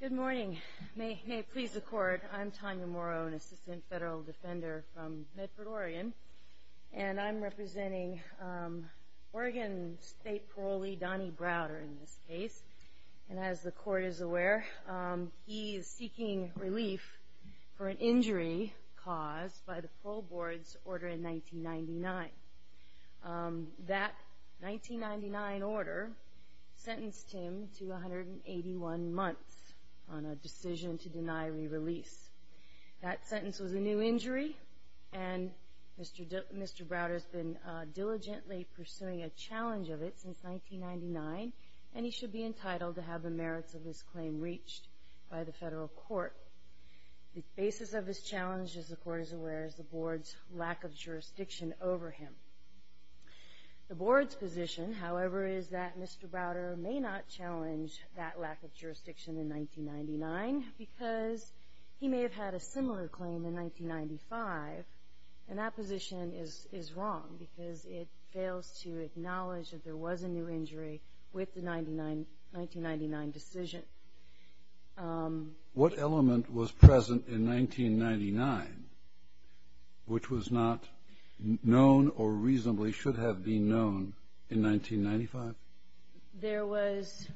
Good morning. May it please the Court, I'm Tanya Morrow, an Assistant Federal Defender from Medford, Oregon, and I'm representing Oregon State Parolee Donnie Browder in this case. And as the Court is aware, he is seeking relief for an injury caused by the Parole Board's order in 1999. That 1999 order sentenced him to 181 months on a decision to deny re-release. That sentence was a new injury, and Mr. Browder has been diligently pursuing a challenge of it since 1999, and he should be entitled to have the merits of this claim reached by the federal court. The basis of this challenge, as the Court is aware, is the Board's lack of jurisdiction over him. The Board's position, however, is that Mr. Browder may not challenge that lack of jurisdiction in 1999 because he may have had a similar claim in 1995, and that position is wrong because it fails to acknowledge that there was a new injury with the 1999 decision. What element was present in 1999 which was not known or reasonably should have been known in 1995? There was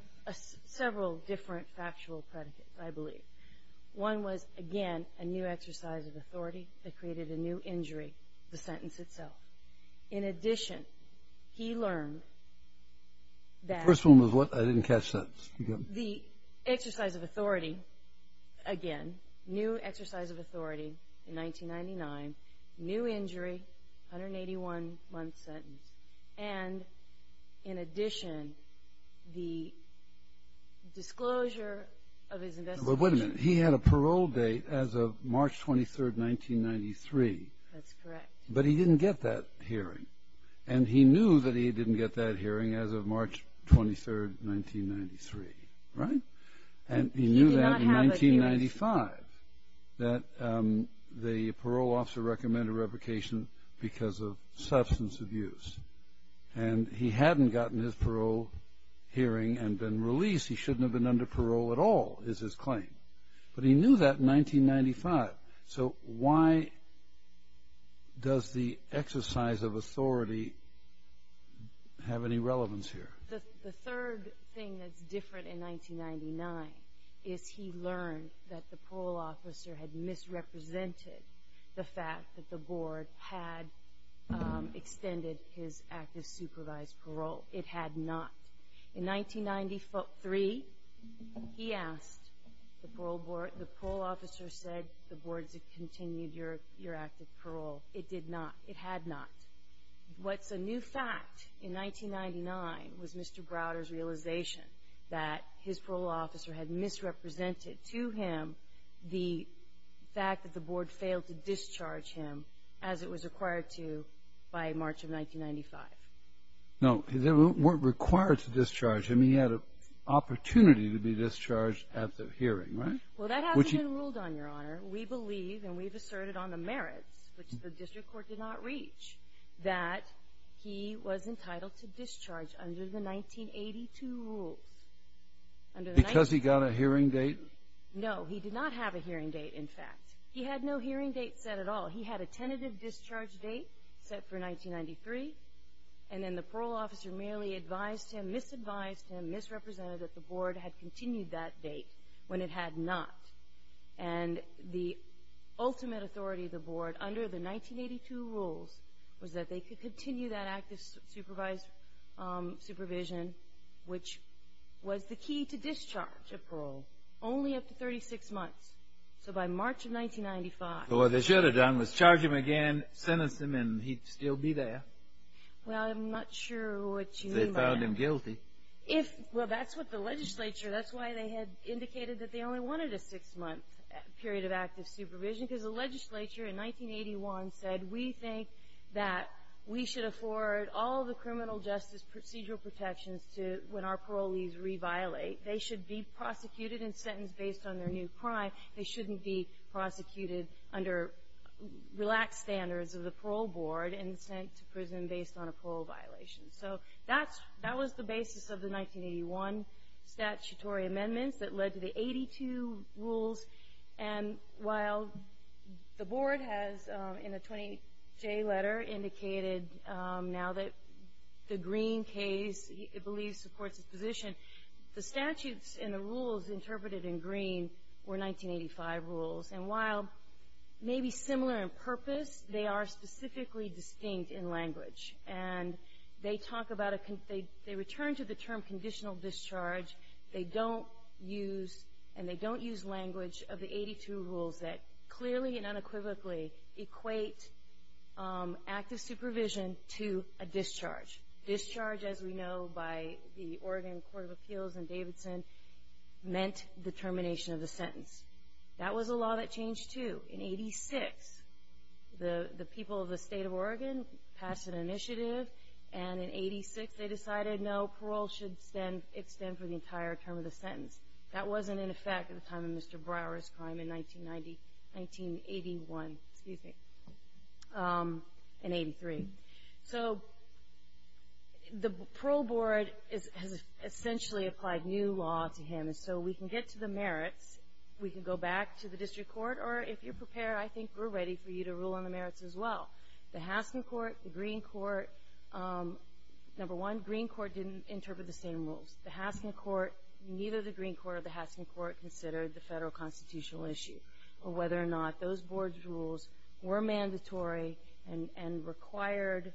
several different factual predicates, I believe. One was, again, a new exercise of authority that created a new injury, the sentence itself. In addition, he learned that... The first one was what? I didn't catch that. The exercise of authority, again, new exercise of authority in 1999, new injury, 181-month sentence, and in addition, the disclosure of his investigation. But wait a minute. He had a parole date as of March 23, 1993. That's correct. But he didn't get that hearing, and he knew that he didn't get that hearing as of March 23, 1993, right? He did not have a hearing. And he knew that in 1995, that the parole officer recommended a replication because of substance abuse, and he hadn't gotten his parole hearing and been released. He shouldn't have been under parole at all, is his claim, but he knew that in 1995. So why does the exercise of authority have any relevance here? The third thing that's different in 1999 is he learned that the parole officer had misrepresented the fact that the board had extended his active supervised parole. It had not. In 1993, he asked, the parole officer said, the board has continued your active parole. It did not. It had not. What's a new fact in 1999 was Mr. Browder's realization that his parole officer had misrepresented to him the fact that the board failed to discharge him as it was required to by March of 1995. No, they weren't required to discharge him. He had an opportunity to be discharged at the hearing, right? Well, that hasn't been ruled on, Your Honor. We believe, and we've asserted on the merits, which the district court did not reach, that he was entitled to discharge under the 1982 rules. Because he got a hearing date? No, he did not have a hearing date, in fact. He had no hearing date set at all. He had a tentative discharge date set for 1993, and then the parole officer merely advised him, misadvised him, misrepresented that the board had continued that date when it had not. And the ultimate authority of the board, under the 1982 rules, was that they could continue that active supervised supervision, which was the key to discharge of parole, only after 36 months. So by March of 1995. So what they should have done was charge him again, sentence him, and he'd still be there. Well, I'm not sure what you mean by that. They found him guilty. Well, that's what the legislature, that's why they had indicated that they only wanted a six-month period of active supervision, because the legislature in 1981 said, we think that we should afford all the criminal justice procedural protections to when our parolees reviolate. They should be prosecuted and sentenced based on their new crime. They shouldn't be prosecuted under relaxed standards of the parole board and sent to prison based on a parole violation. So that was the basis of the 1981 statutory amendments that led to the 82 rules. And while the board has, in the 20J letter, indicated now that the Green case it believes supports its position, the statutes and the rules interpreted in Green were 1985 rules. And while maybe similar in purpose, they are specifically distinct in language. And they talk about a, they return to the term conditional discharge. They don't use, and they don't use language of the 82 rules that clearly and unequivocally equate active supervision to a discharge. Discharge, as we know by the Oregon Court of Appeals and Davidson, meant the termination of the sentence. That was a law that changed, too. In 86, the people of the state of Oregon passed an initiative, and in 86 they decided no, parole should extend for the entire term of the sentence. That wasn't in effect at the time of Mr. Brower's crime in 1980, 1981, excuse me, in 83. So the parole board has essentially applied new law to him. And so we can get to the merits. We can go back to the district court. Or if you're prepared, I think we're ready for you to rule on the merits as well. The Haskin court, the Green court, number one, Green court didn't interpret the same rules. The Haskin court, neither the Green court or the Haskin court considered the federal constitutional issue of whether or not those board's rules were mandatory and required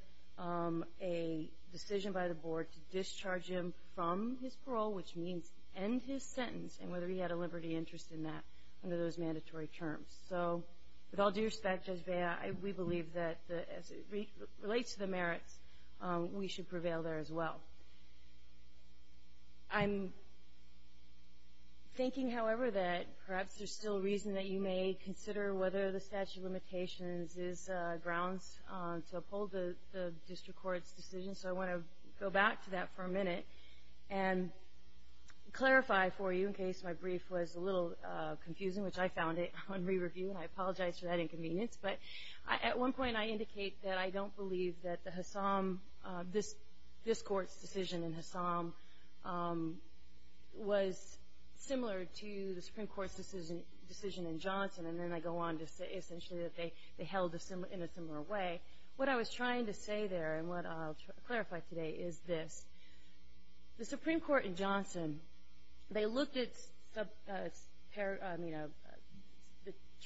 a decision by the board to discharge him from his parole, which means end his sentence, and whether he had a liberty interest in that under those mandatory terms. So with all due respect, Judge Bea, we believe that as it relates to the merits, we should prevail there as well. I'm thinking, however, that perhaps there's still reason that you may consider whether the statute of limitations is grounds to uphold the district court's decision. So I want to go back to that for a minute and clarify for you, in case my brief was a little confusing, which I found it on re-review, and I apologize for that inconvenience. But at one point I indicate that I don't believe that this court's decision in Hassam was similar to the Supreme Court's decision in Johnson, and then I go on to say essentially that they held in a similar way. What I was trying to say there, and what I'll clarify today, is this. The Supreme Court in Johnson, they looked at the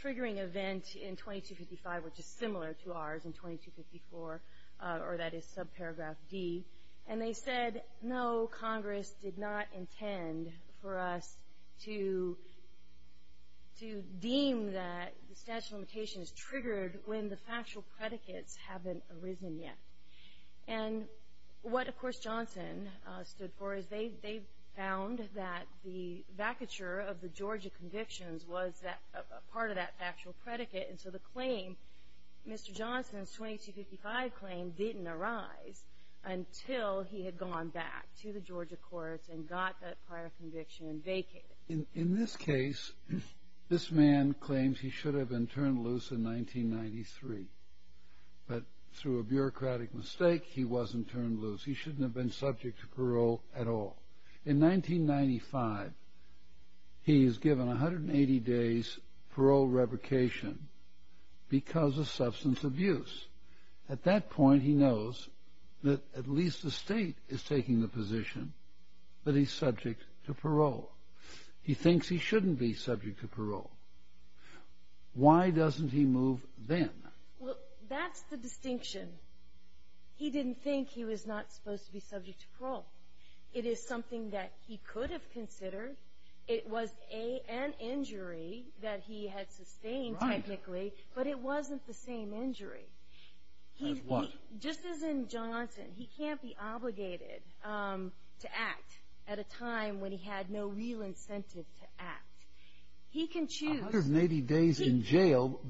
triggering event in 2255, which is similar to ours in 2254, or that is subparagraph D, and they said, no, Congress did not intend for us to deem that the statute of limitations is triggered when the factual predicates haven't arisen yet. And what, of course, Johnson stood for is they found that the vacature of the Georgia convictions was a part of that factual predicate, and so the claim, Mr. Johnson's 2255 claim, didn't arise until he had gone back to the Georgia courts and got that prior conviction vacated. In this case, this man claims he should have been turned loose in 1993, but through a bureaucratic mistake, he wasn't turned loose. He shouldn't have been subject to parole at all. In 1995, he is given 180 days parole revocation because of substance abuse. At that point, he knows that at least the state is taking the position that he's subject to parole. Why doesn't he move then? Well, that's the distinction. He didn't think he was not supposed to be subject to parole. It is something that he could have considered. It was an injury that he had sustained technically, but it wasn't the same injury. As what? Just as in Johnson, he can't be obligated to act at a time when he had no real incentive to act. He can choose. 180 days in jail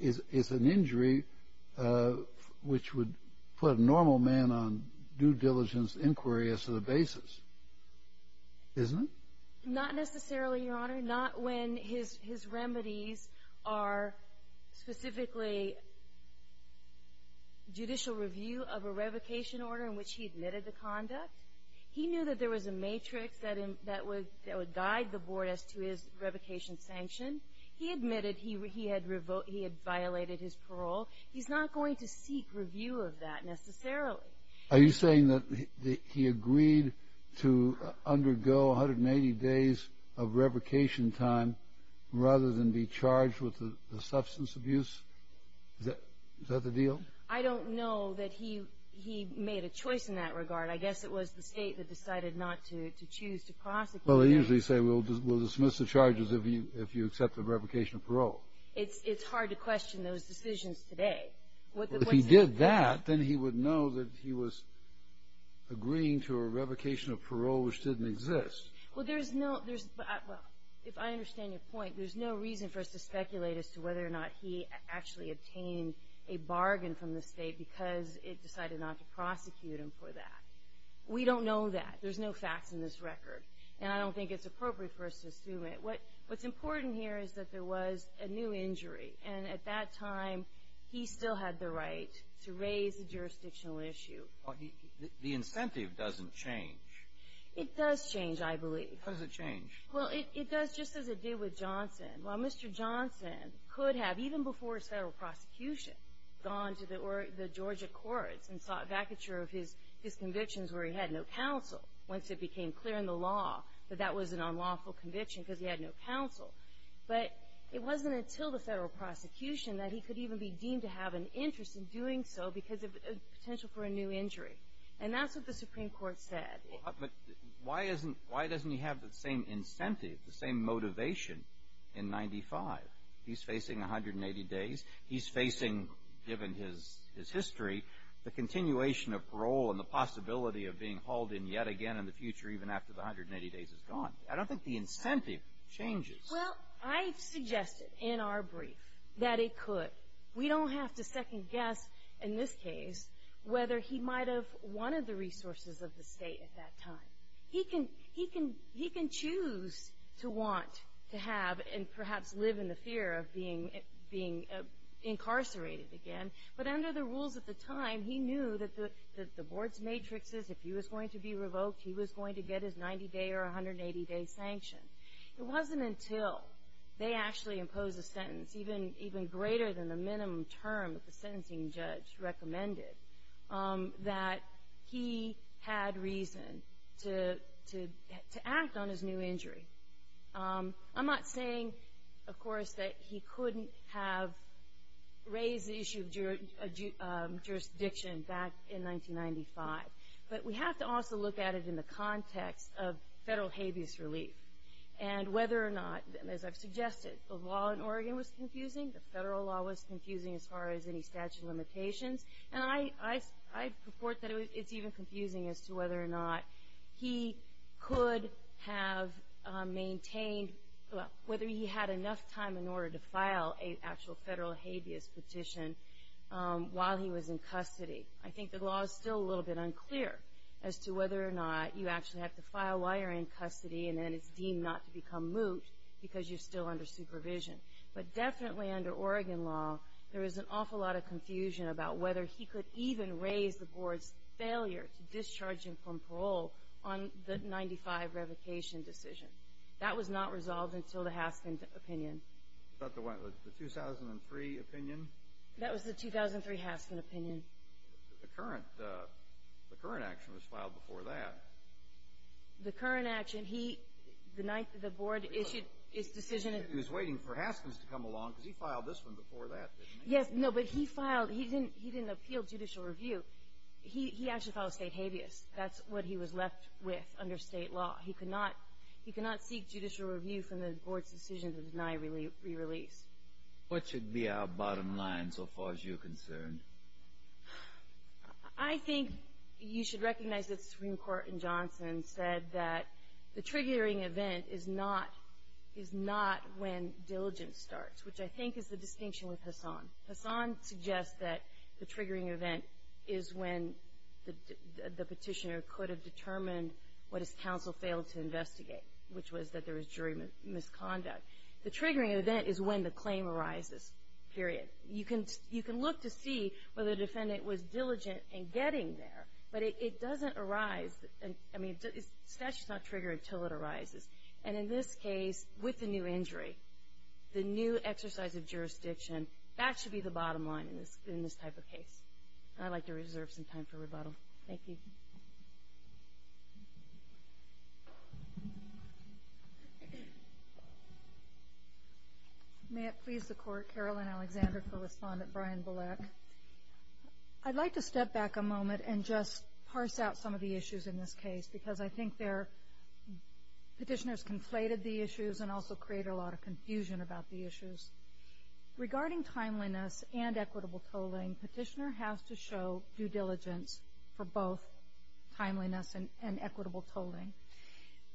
is an injury which would put a normal man on due diligence inquiry as to the basis, isn't it? Not necessarily, Your Honor. Not when his remedies are specifically judicial review of a revocation order in which he admitted the conduct. He knew that there was a matrix that would guide the board as to his revocation sanction. He admitted he had violated his parole. He's not going to seek review of that necessarily. Are you saying that he agreed to undergo 180 days of revocation time rather than be charged with the substance abuse? Is that the deal? I don't know that he made a choice in that regard. I guess it was the state that decided not to choose to prosecute him. Well, they usually say we'll dismiss the charges if you accept the revocation of parole. It's hard to question those decisions today. If he did that, then he would know that he was agreeing to a revocation of parole which didn't exist. Well, there's no – well, if I understand your point, there's no reason for us to speculate as to whether or not he actually obtained a bargain from the state because it decided not to prosecute him for that. We don't know that. There's no facts in this record, and I don't think it's appropriate for us to assume it. What's important here is that there was a new injury, and at that time, he still had the right to raise the jurisdictional issue. The incentive doesn't change. It does change, I believe. Well, it does just as it did with Johnson. Well, Mr. Johnson could have, even before his federal prosecution, gone to the Georgia courts and sought vacature of his convictions where he had no counsel, once it became clear in the law that that was an unlawful conviction because he had no counsel. But it wasn't until the federal prosecution that he could even be deemed to have an interest in doing so because of potential for a new injury. And that's what the Supreme Court said. But why doesn't he have the same incentive, the same motivation in 95? He's facing 180 days. He's facing, given his history, the continuation of parole and the possibility of being hauled in yet again in the future even after the 180 days is gone. I don't think the incentive changes. Well, I suggested in our brief that it could. We don't have to second-guess, in this case, whether he might have wanted the resources of the state at that time. He can choose to want to have and perhaps live in the fear of being incarcerated again. But under the rules at the time, he knew that the board's matrix is, if he was going to be revoked, he was going to get his 90-day or 180-day sanction. greater than the minimum term that the sentencing judge recommended, that he had reason to act on his new injury. I'm not saying, of course, that he couldn't have raised the issue of jurisdiction back in 1995. But we have to also look at it in the context of federal habeas relief and whether or not, as I've suggested, the law in Oregon was confusing. The federal law was confusing as far as any statute of limitations. And I purport that it's even confusing as to whether or not he could have maintained whether he had enough time in order to file an actual federal habeas petition while he was in custody. I think the law is still a little bit unclear as to whether or not you actually have to file while you're in custody and then it's deemed not to become moot because you're still under supervision. But definitely under Oregon law, there is an awful lot of confusion about whether he could even raise the board's failure to discharge him from parole on the 1995 revocation decision. That was not resolved until the Haskin opinion. Was that the 2003 opinion? That was the 2003 Haskin opinion. The current action was filed before that. The current action, he denied that the board issued its decision. He was waiting for Haskins to come along because he filed this one before that, didn't he? Yes, no, but he filed. He didn't appeal judicial review. He actually filed state habeas. That's what he was left with under state law. He could not seek judicial review from the board's decision to deny re-release. What should be our bottom line so far as you're concerned? I think you should recognize that the Supreme Court in Johnson said that the triggering event is not when diligence starts, which I think is the distinction with Hassan. Hassan suggests that the triggering event is when the petitioner could have determined what his counsel failed to investigate, which was that there was jury misconduct. The triggering event is when the claim arises, period. You can look to see whether the defendant was diligent in getting there, but it doesn't arise. I mean, the statute's not triggered until it arises. And in this case, with the new injury, the new exercise of jurisdiction, that should be the bottom line in this type of case. I'd like to reserve some time for rebuttal. Thank you. Thank you. May it please the Court. Carolyn Alexander, co-respondent, Brian Bullock. I'd like to step back a moment and just parse out some of the issues in this case, because I think petitioners conflated the issues and also created a lot of confusion about the issues. Regarding timeliness and equitable tolling, petitioner has to show due diligence for both timeliness and equitable tolling.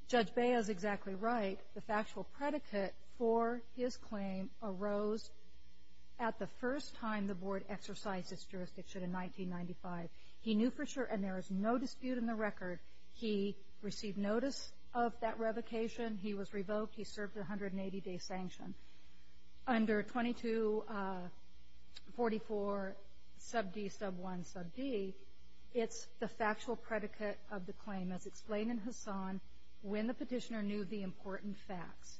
Judge Bea is exactly right. The factual predicate for his claim arose at the first time the Board exercised its jurisdiction in 1995. He knew for sure, and there is no dispute in the record, he received notice of that revocation. He was revoked. He served a 180-day sanction. Under 2244, sub D, sub 1, sub D, it's the factual predicate of the claim, as explained in Hassan, when the petitioner knew the important facts.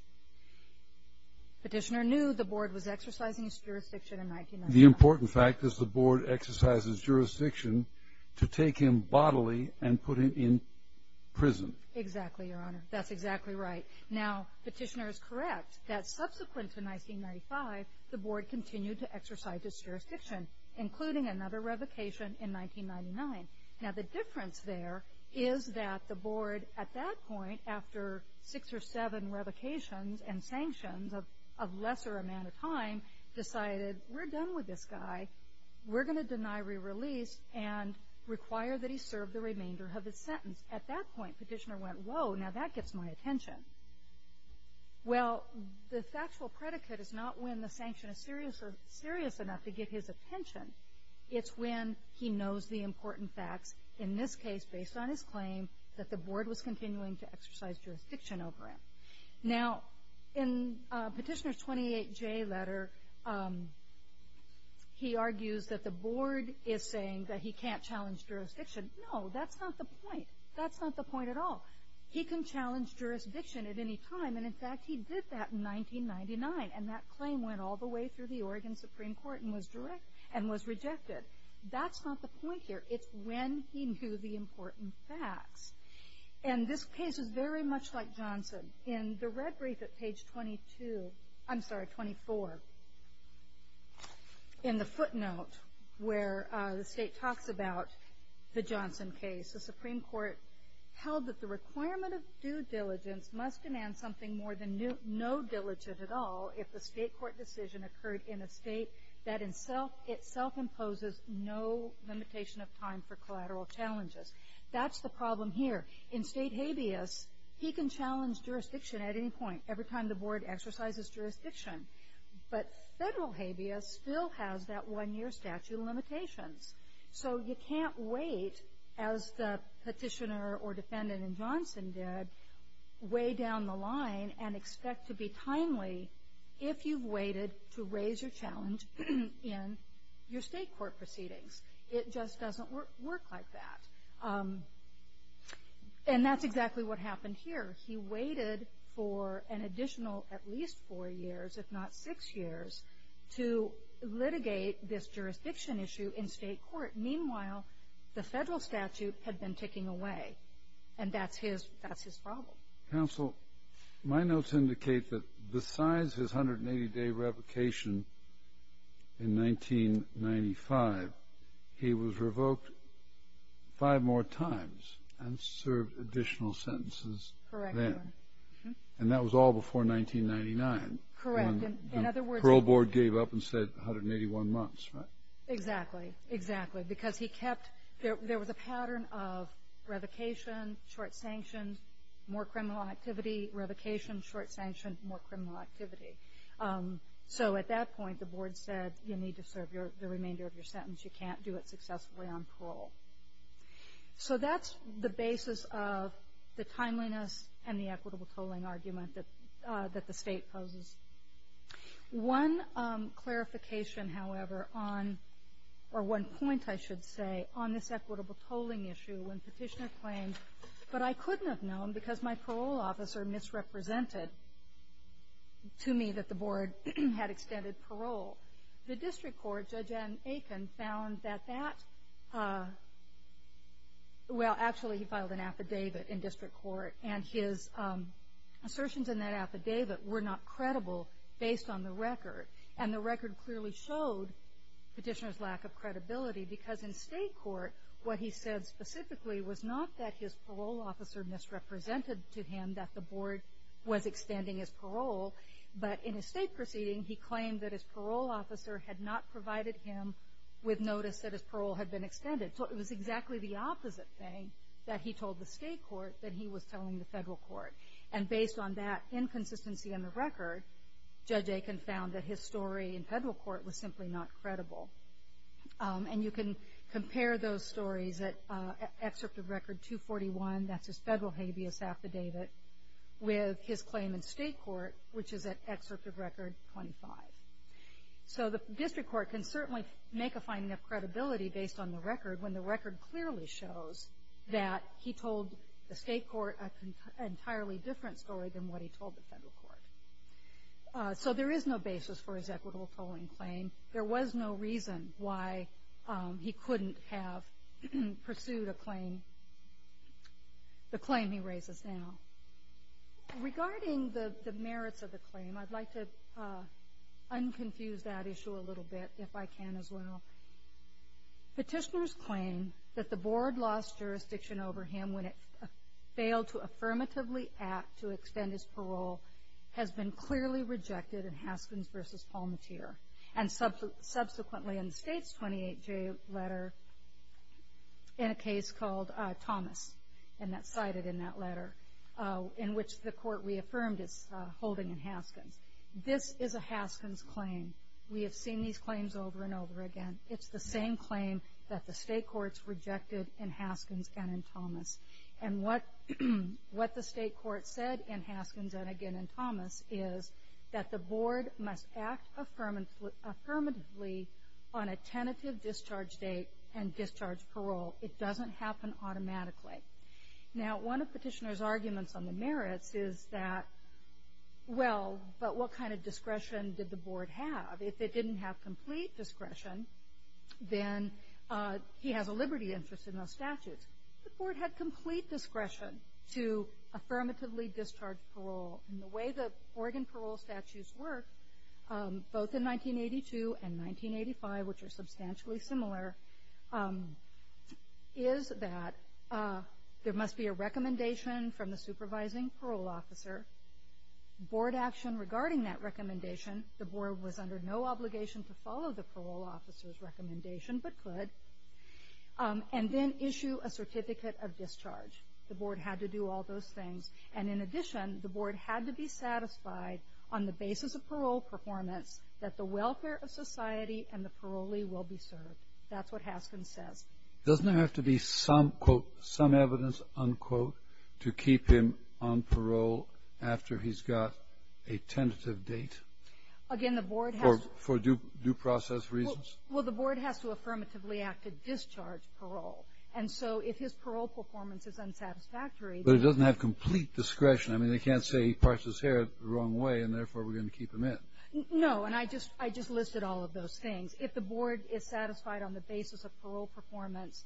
Petitioner knew the Board was exercising its jurisdiction in 1995. The important fact is the Board exercises jurisdiction to take him bodily and put him in prison. Exactly, Your Honor. That's exactly right. Now, petitioner is correct that subsequent to 1995, the Board continued to exercise its jurisdiction, including another revocation in 1999. Now, the difference there is that the Board, at that point, after six or seven revocations and sanctions of lesser amount of time, decided, we're done with this guy. We're going to deny re-release and require that he serve the remainder of his sentence. At that point, petitioner went, whoa, now that gets my attention. Well, the factual predicate is not when the sanction is serious enough to get his attention. It's when he knows the important facts, in this case, based on his claim, that the Board was continuing to exercise jurisdiction over him. Now, in Petitioner's 28J letter, he argues that the Board is saying that he can't challenge jurisdiction. No, that's not the point. That's not the point at all. He can challenge jurisdiction at any time, and in fact, he did that in 1999. And that claim went all the way through the Oregon Supreme Court and was rejected. That's not the point here. It's when he knew the important facts. And this case is very much like Johnson. In the red brief at page 24, in the footnote where the state talks about the Johnson case, the Supreme Court held that the requirement of due diligence must demand something more than no diligence at all if the state court decision occurred in a state that itself imposes no limitation of time for collateral challenges. That's the problem here. In state habeas, he can challenge jurisdiction at any point, every time the Board exercises jurisdiction. But federal habeas still has that one-year statute of limitations. So you can't wait, as the petitioner or defendant in Johnson did, way down the line and expect to be timely if you've waited to raise your challenge in your state court proceedings. It just doesn't work like that. And that's exactly what happened here. He waited for an additional at least four years, if not six years, to litigate this jurisdiction issue in state court. Meanwhile, the federal statute had been ticking away, and that's his problem. Counsel, my notes indicate that besides his 180-day revocation in 1995, he was revoked five more times and served additional sentences then. Correct, Your Honor. And that was all before 1999. Correct. When the parole board gave up and said 181 months, right? Exactly, exactly. Because there was a pattern of revocation, short sanction, more criminal activity, revocation, short sanction, more criminal activity. So at that point, the board said, you need to serve the remainder of your sentence. You can't do it successfully on parole. So that's the basis of the timeliness and the equitable tolling argument that the state poses. One clarification, however, or one point, I should say, on this equitable tolling issue, when Petitioner claimed, but I couldn't have known because my parole officer misrepresented to me that the board had extended parole. The district court, Judge Aiken, found that that, well, actually he filed an affidavit in district court, and his assertions in that affidavit were not credible based on the record. And the record clearly showed Petitioner's lack of credibility because in state court, what he said specifically was not that his parole officer misrepresented to him that the board was extending his parole, but in a state proceeding, he claimed that his parole officer had not provided him with notice that his parole had been extended. So it was exactly the opposite thing, that he told the state court that he was telling the federal court. And based on that inconsistency in the record, Judge Aiken found that his story in federal court was simply not credible. And you can compare those stories at Excerpt of Record 241, that's his federal habeas affidavit, with his claim in state court, which is at Excerpt of Record 25. So the district court can certainly make a finding of credibility based on the record, when the record clearly shows that he told the state court an entirely different story than what he told the federal court. So there is no basis for his equitable tolling claim. There was no reason why he couldn't have pursued a claim, the claim he raises now. Regarding the merits of the claim, I'd like to unconfuse that issue a little bit, if I can as well. Petitioners claim that the board lost jurisdiction over him when it failed to affirmatively act to extend his parole, has been clearly rejected in Haskins v. Palmateer. And subsequently in the state's 28-J letter, in a case called Thomas, and that's cited in that letter, in which the court reaffirmed his holding in Haskins. This is a Haskins claim. We have seen these claims over and over again. It's the same claim that the state courts rejected in Haskins and in Thomas. And what the state court said in Haskins, and again in Thomas, is that the board must act affirmatively on a tentative discharge date and discharge parole. It doesn't happen automatically. Now, one of petitioners' arguments on the merits is that, well, but what kind of discretion did the board have? If it didn't have complete discretion, then he has a liberty interest in those statutes. The board had complete discretion to affirmatively discharge parole. And the way the Oregon parole statutes work, both in 1982 and 1985, which are substantially similar, is that there must be a recommendation from the supervising parole officer, board action regarding that recommendation, the board was under no obligation to follow the parole officer's recommendation but could, and then issue a certificate of discharge. The board had to do all those things. And in addition, the board had to be satisfied on the basis of parole performance that the welfare of society and the parolee will be served. That's what Haskins says. Doesn't there have to be some, quote, some evidence, unquote, to keep him on parole after he's got a tentative date? Again, the board has to. For due process reasons? Well, the board has to affirmatively act to discharge parole. And so if his parole performance is unsatisfactory. But it doesn't have complete discretion. I mean, they can't say he parts his hair the wrong way, and therefore we're going to keep him in. No, and I just listed all of those things. If the board is satisfied on the basis of parole performance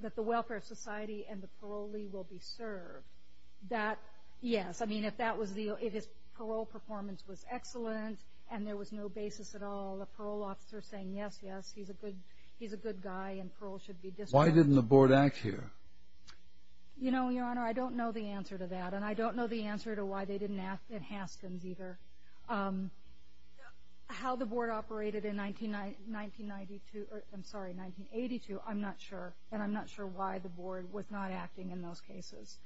that the welfare of society and the parolee will be served, that, yes. I mean, if his parole performance was excellent and there was no basis at all, the parole officer saying, yes, yes, he's a good guy and parole should be discharged. Why didn't the board act here? You know, Your Honor, I don't know the answer to that. And I don't know the answer to why they didn't ask in Haskins either. How the board operated in 1982, I'm not sure. And I'm not sure why the board was not acting in those cases.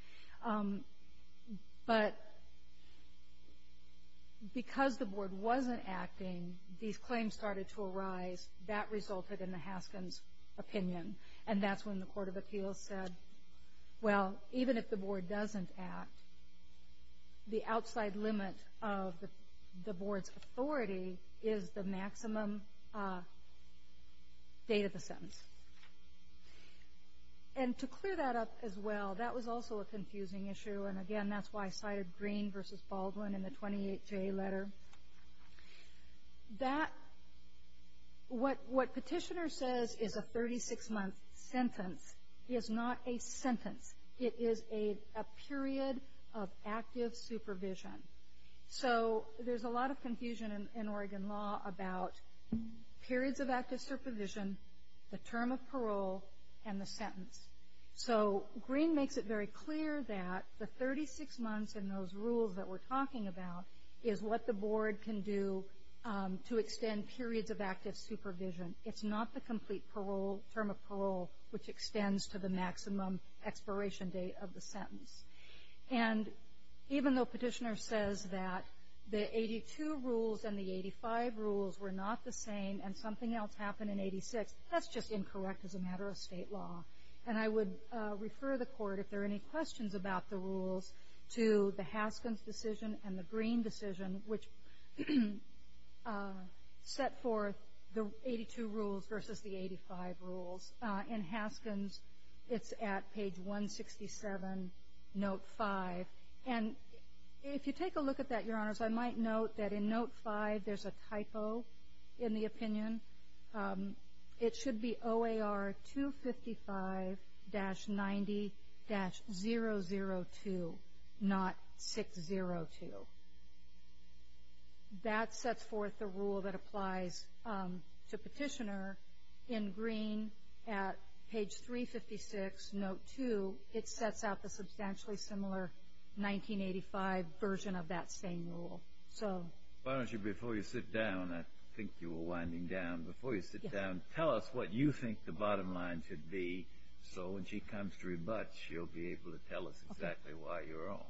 But because the board wasn't acting, these claims started to arise. That resulted in the Haskins opinion. And that's when the Court of Appeals said, well, even if the board doesn't act, the outside limit of the board's authority is the maximum date of the sentence. And to clear that up as well, that was also a confusing issue. And, again, that's why I cited Green v. Baldwin in the 28-J letter. What Petitioner says is a 36-month sentence is not a sentence. It is a period of active supervision. So there's a lot of confusion in Oregon law about periods of active supervision, the term of parole, and the sentence. So Green makes it very clear that the 36 months and those rules that we're talking about is what the board can do to extend periods of active supervision. It's not the complete parole, term of parole, which extends to the maximum expiration date of the sentence. And even though Petitioner says that the 82 rules and the 85 rules were not the same and something else happened in 86, that's just incorrect as a matter of state law. And I would refer the Court, if there are any questions about the rules, to the Haskins decision and the Green decision, which set forth the 82 rules versus the 85 rules. In Haskins, it's at page 167, note 5. And if you take a look at that, Your Honors, I might note that in note 5 there's a typo in the opinion. It should be OAR 255-90-002, not 602. That sets forth the rule that applies to Petitioner. In Green at page 356, note 2, it sets out the substantially similar 1985 version of that same rule. Why don't you, before you sit down, I think you were winding down. Before you sit down, tell us what you think the bottom line should be so when she comes to rebut, she'll be able to tell us exactly why you're wrong.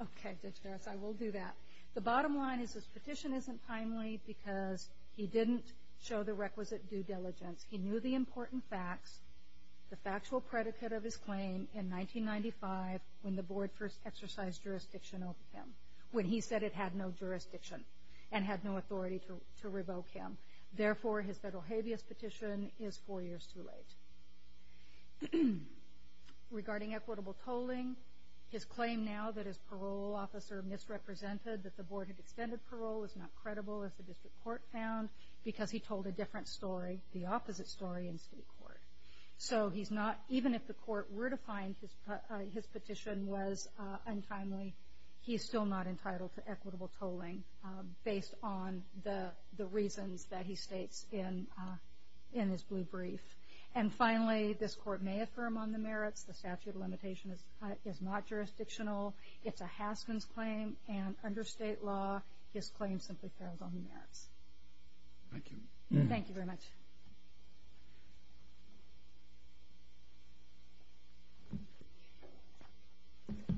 Okay, Judge Harris, I will do that. The bottom line is this petition isn't timely because he didn't show the requisite due diligence. He knew the important facts, the factual predicate of his claim in 1995 when the Board first exercised jurisdiction over him, when he said it had no jurisdiction and had no authority to revoke him. Therefore, his federal habeas petition is four years too late. Regarding equitable tolling, his claim now that his parole officer misrepresented that the Board had extended parole is not credible, as the District Court found, because he told a different story, the opposite story in state court. So he's not, even if the Court were to find his petition was untimely, he's still not entitled to equitable tolling based on the reasons that he states in his blue brief. And finally, this Court may affirm on the merits. The statute of limitation is not jurisdictional. It's a Haskins claim, and under state law, his claim simply fails on the merits. Thank you. Thank you very much.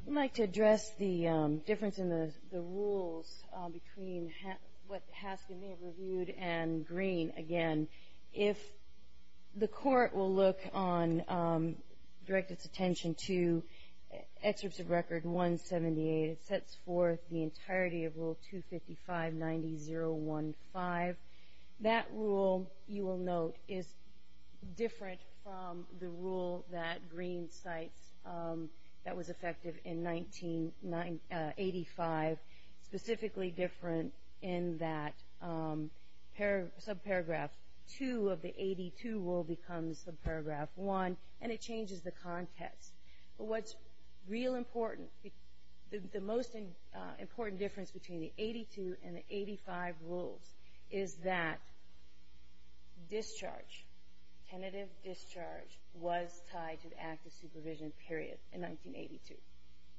I'd like to address the difference in the rules between what Haskin may have reviewed and Green again. If the Court will look on, direct its attention to Excerpts of Record 178, it sets forth the entirety of Rule 255-90-015. That rule, you will note, is different from the rule that Green cites that was effective in 1985, specifically different in that subparagraph 2 of the 82 rule becomes subparagraph 1, and it changes the context. But what's real important, the most important difference between the 82 and the 85 rules is that discharge, tentative discharge, was tied to the act of supervision period in 1982.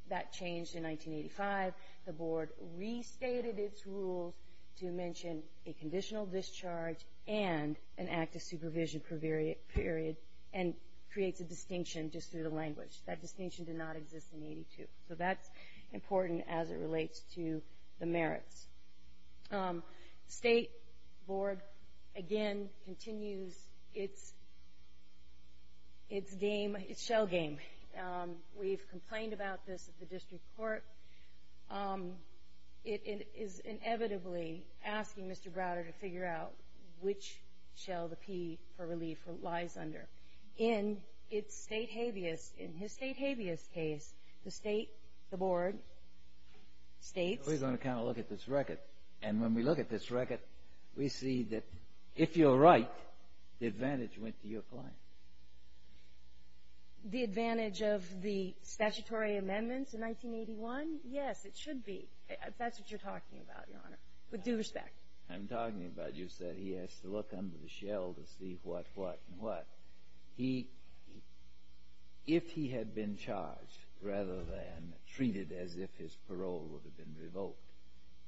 That changed in 1985. The Board restated its rules to mention a conditional discharge and an act of supervision period and creates a distinction just through the language. That distinction did not exist in 82. So that's important as it relates to the merits. State Board, again, continues its game, its shell game. We've complained about this at the district court. It is inevitably asking Mr. Browder to figure out which shell the P for relief lies under. In its state habeas, in his state habeas case, the state, the Board, states. We're going to kind of look at this record, and when we look at this record, we see that if you're right, the advantage went to your client. The advantage of the statutory amendments in 1981? Yes, it should be. That's what you're talking about, Your Honor, with due respect. I'm talking about you said he has to look under the shell to see what, what, and what. If he had been charged rather than treated as if his parole would have been revoked,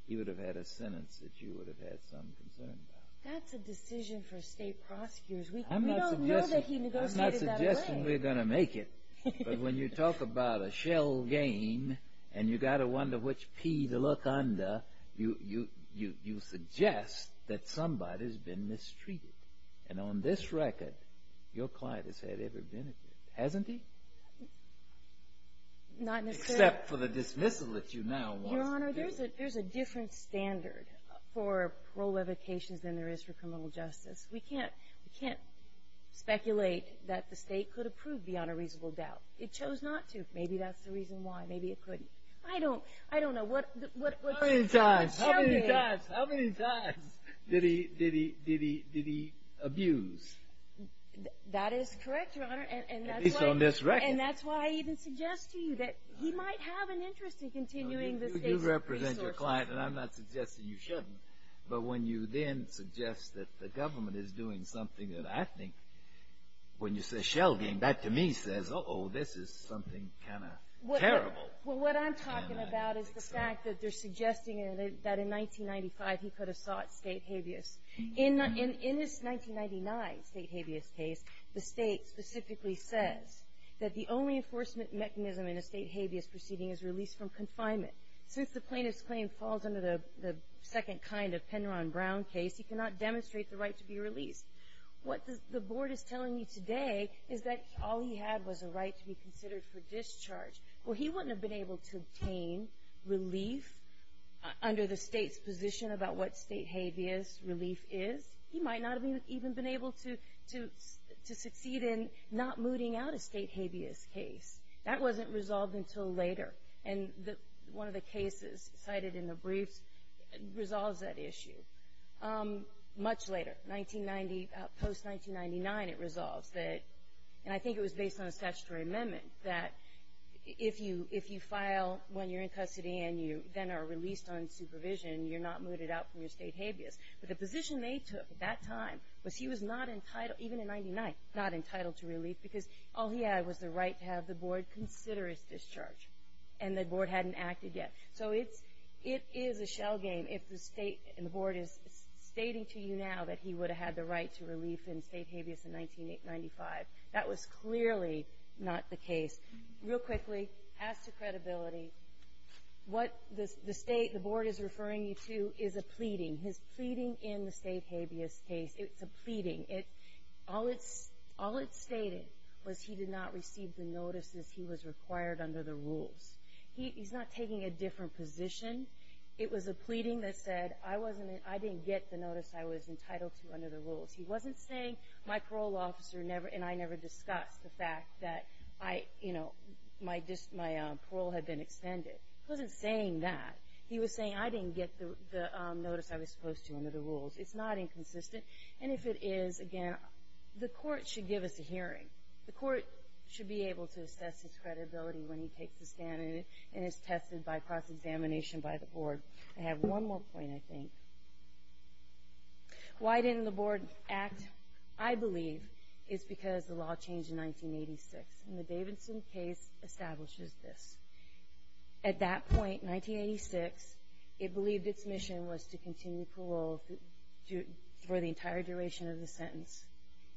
he would have had a sentence that you would have had some concern about. That's a decision for state prosecutors. We don't know that he negotiated that away. I'm not suggesting we're going to make it, but when you talk about a shell game and you've got to wonder which P to look under, you suggest that somebody's been mistreated. And on this record, your client has had every benefit, hasn't he? Not necessarily. Except for the dismissal that you now want. Your Honor, there's a, there's a different standard for parole revocations than there is for criminal justice. We can't, we can't speculate that the state could approve beyond a reasonable doubt. It chose not to. Maybe that's the reason why. Maybe it couldn't. I don't, I don't know what, what, what the shell did. How many times, how many times, how many times did he, did he, did he, did he abuse? That is correct, Your Honor. At least on this record. And that's why I even suggest to you that he might have an interest in continuing the state's resources. You represent your client, and I'm not suggesting you shouldn't. But when you then suggest that the government is doing something that I think, when you say shell game, that to me says, uh-oh, this is something kind of terrible. Well, what I'm talking about is the fact that they're suggesting that in 1995 he could have sought state habeas. In this 1999 state habeas case, the state specifically says that the only enforcement mechanism in a state habeas proceeding is release from confinement. Since the plaintiff's claim falls under the second kind of Penron-Brown case, he cannot demonstrate the right to be released. What the Board is telling you today is that all he had was a right to be considered for discharge. Well, he wouldn't have been able to obtain relief under the state's position about what state habeas relief is. He might not have even been able to succeed in not mooting out a state habeas case. That wasn't resolved until later. And one of the cases cited in the briefs resolves that issue much later. Post-1999 it resolves that, and I think it was based on a statutory amendment, that if you file when you're in custody and you then are released on supervision, you're not mooted out from your state habeas. But the position they took at that time was he was not entitled, even in 1999, not entitled to relief because all he had was the right to have the Board consider his discharge. And the Board hadn't acted yet. So it is a shell game if the Board is stating to you now that he would have had the right to relief in state habeas in 1995. That was clearly not the case. Real quickly, as to credibility, what the Board is referring you to is a pleading. His pleading in the state habeas case, it's a pleading. All it stated was he did not receive the notices he was required under the rules. He's not taking a different position. It was a pleading that said I didn't get the notice I was entitled to under the rules. He wasn't saying my parole officer and I never discussed the fact that my parole had been extended. He wasn't saying that. He was saying I didn't get the notice I was supposed to under the rules. It's not inconsistent. And if it is, again, the court should give us a hearing. The court should be able to assess his credibility when he takes the stand and is tested by cross-examination by the Board. I have one more point, I think. Why didn't the Board act? I believe it's because the law changed in 1986. And the Davidson case establishes this. At that point, 1986, it believed its mission was to continue parole for the entire duration of the sentence.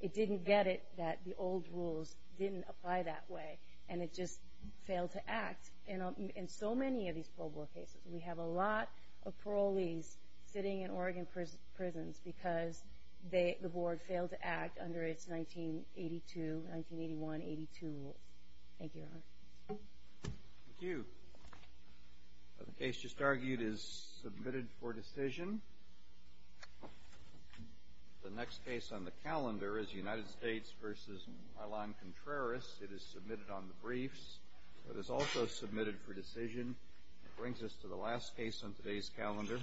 It didn't get it that the old rules didn't apply that way, and it just failed to act. In so many of these parole board cases, we have a lot of parolees sitting in Oregon prisons because the Board failed to act under its 1982, 1981, 1982 rules. Thank you, Your Honor. Thank you. The case just argued is submitted for decision. The next case on the calendar is United States v. Milan Contreras. It is submitted on the briefs. It is also submitted for decision. It brings us to the last case on today's calendar.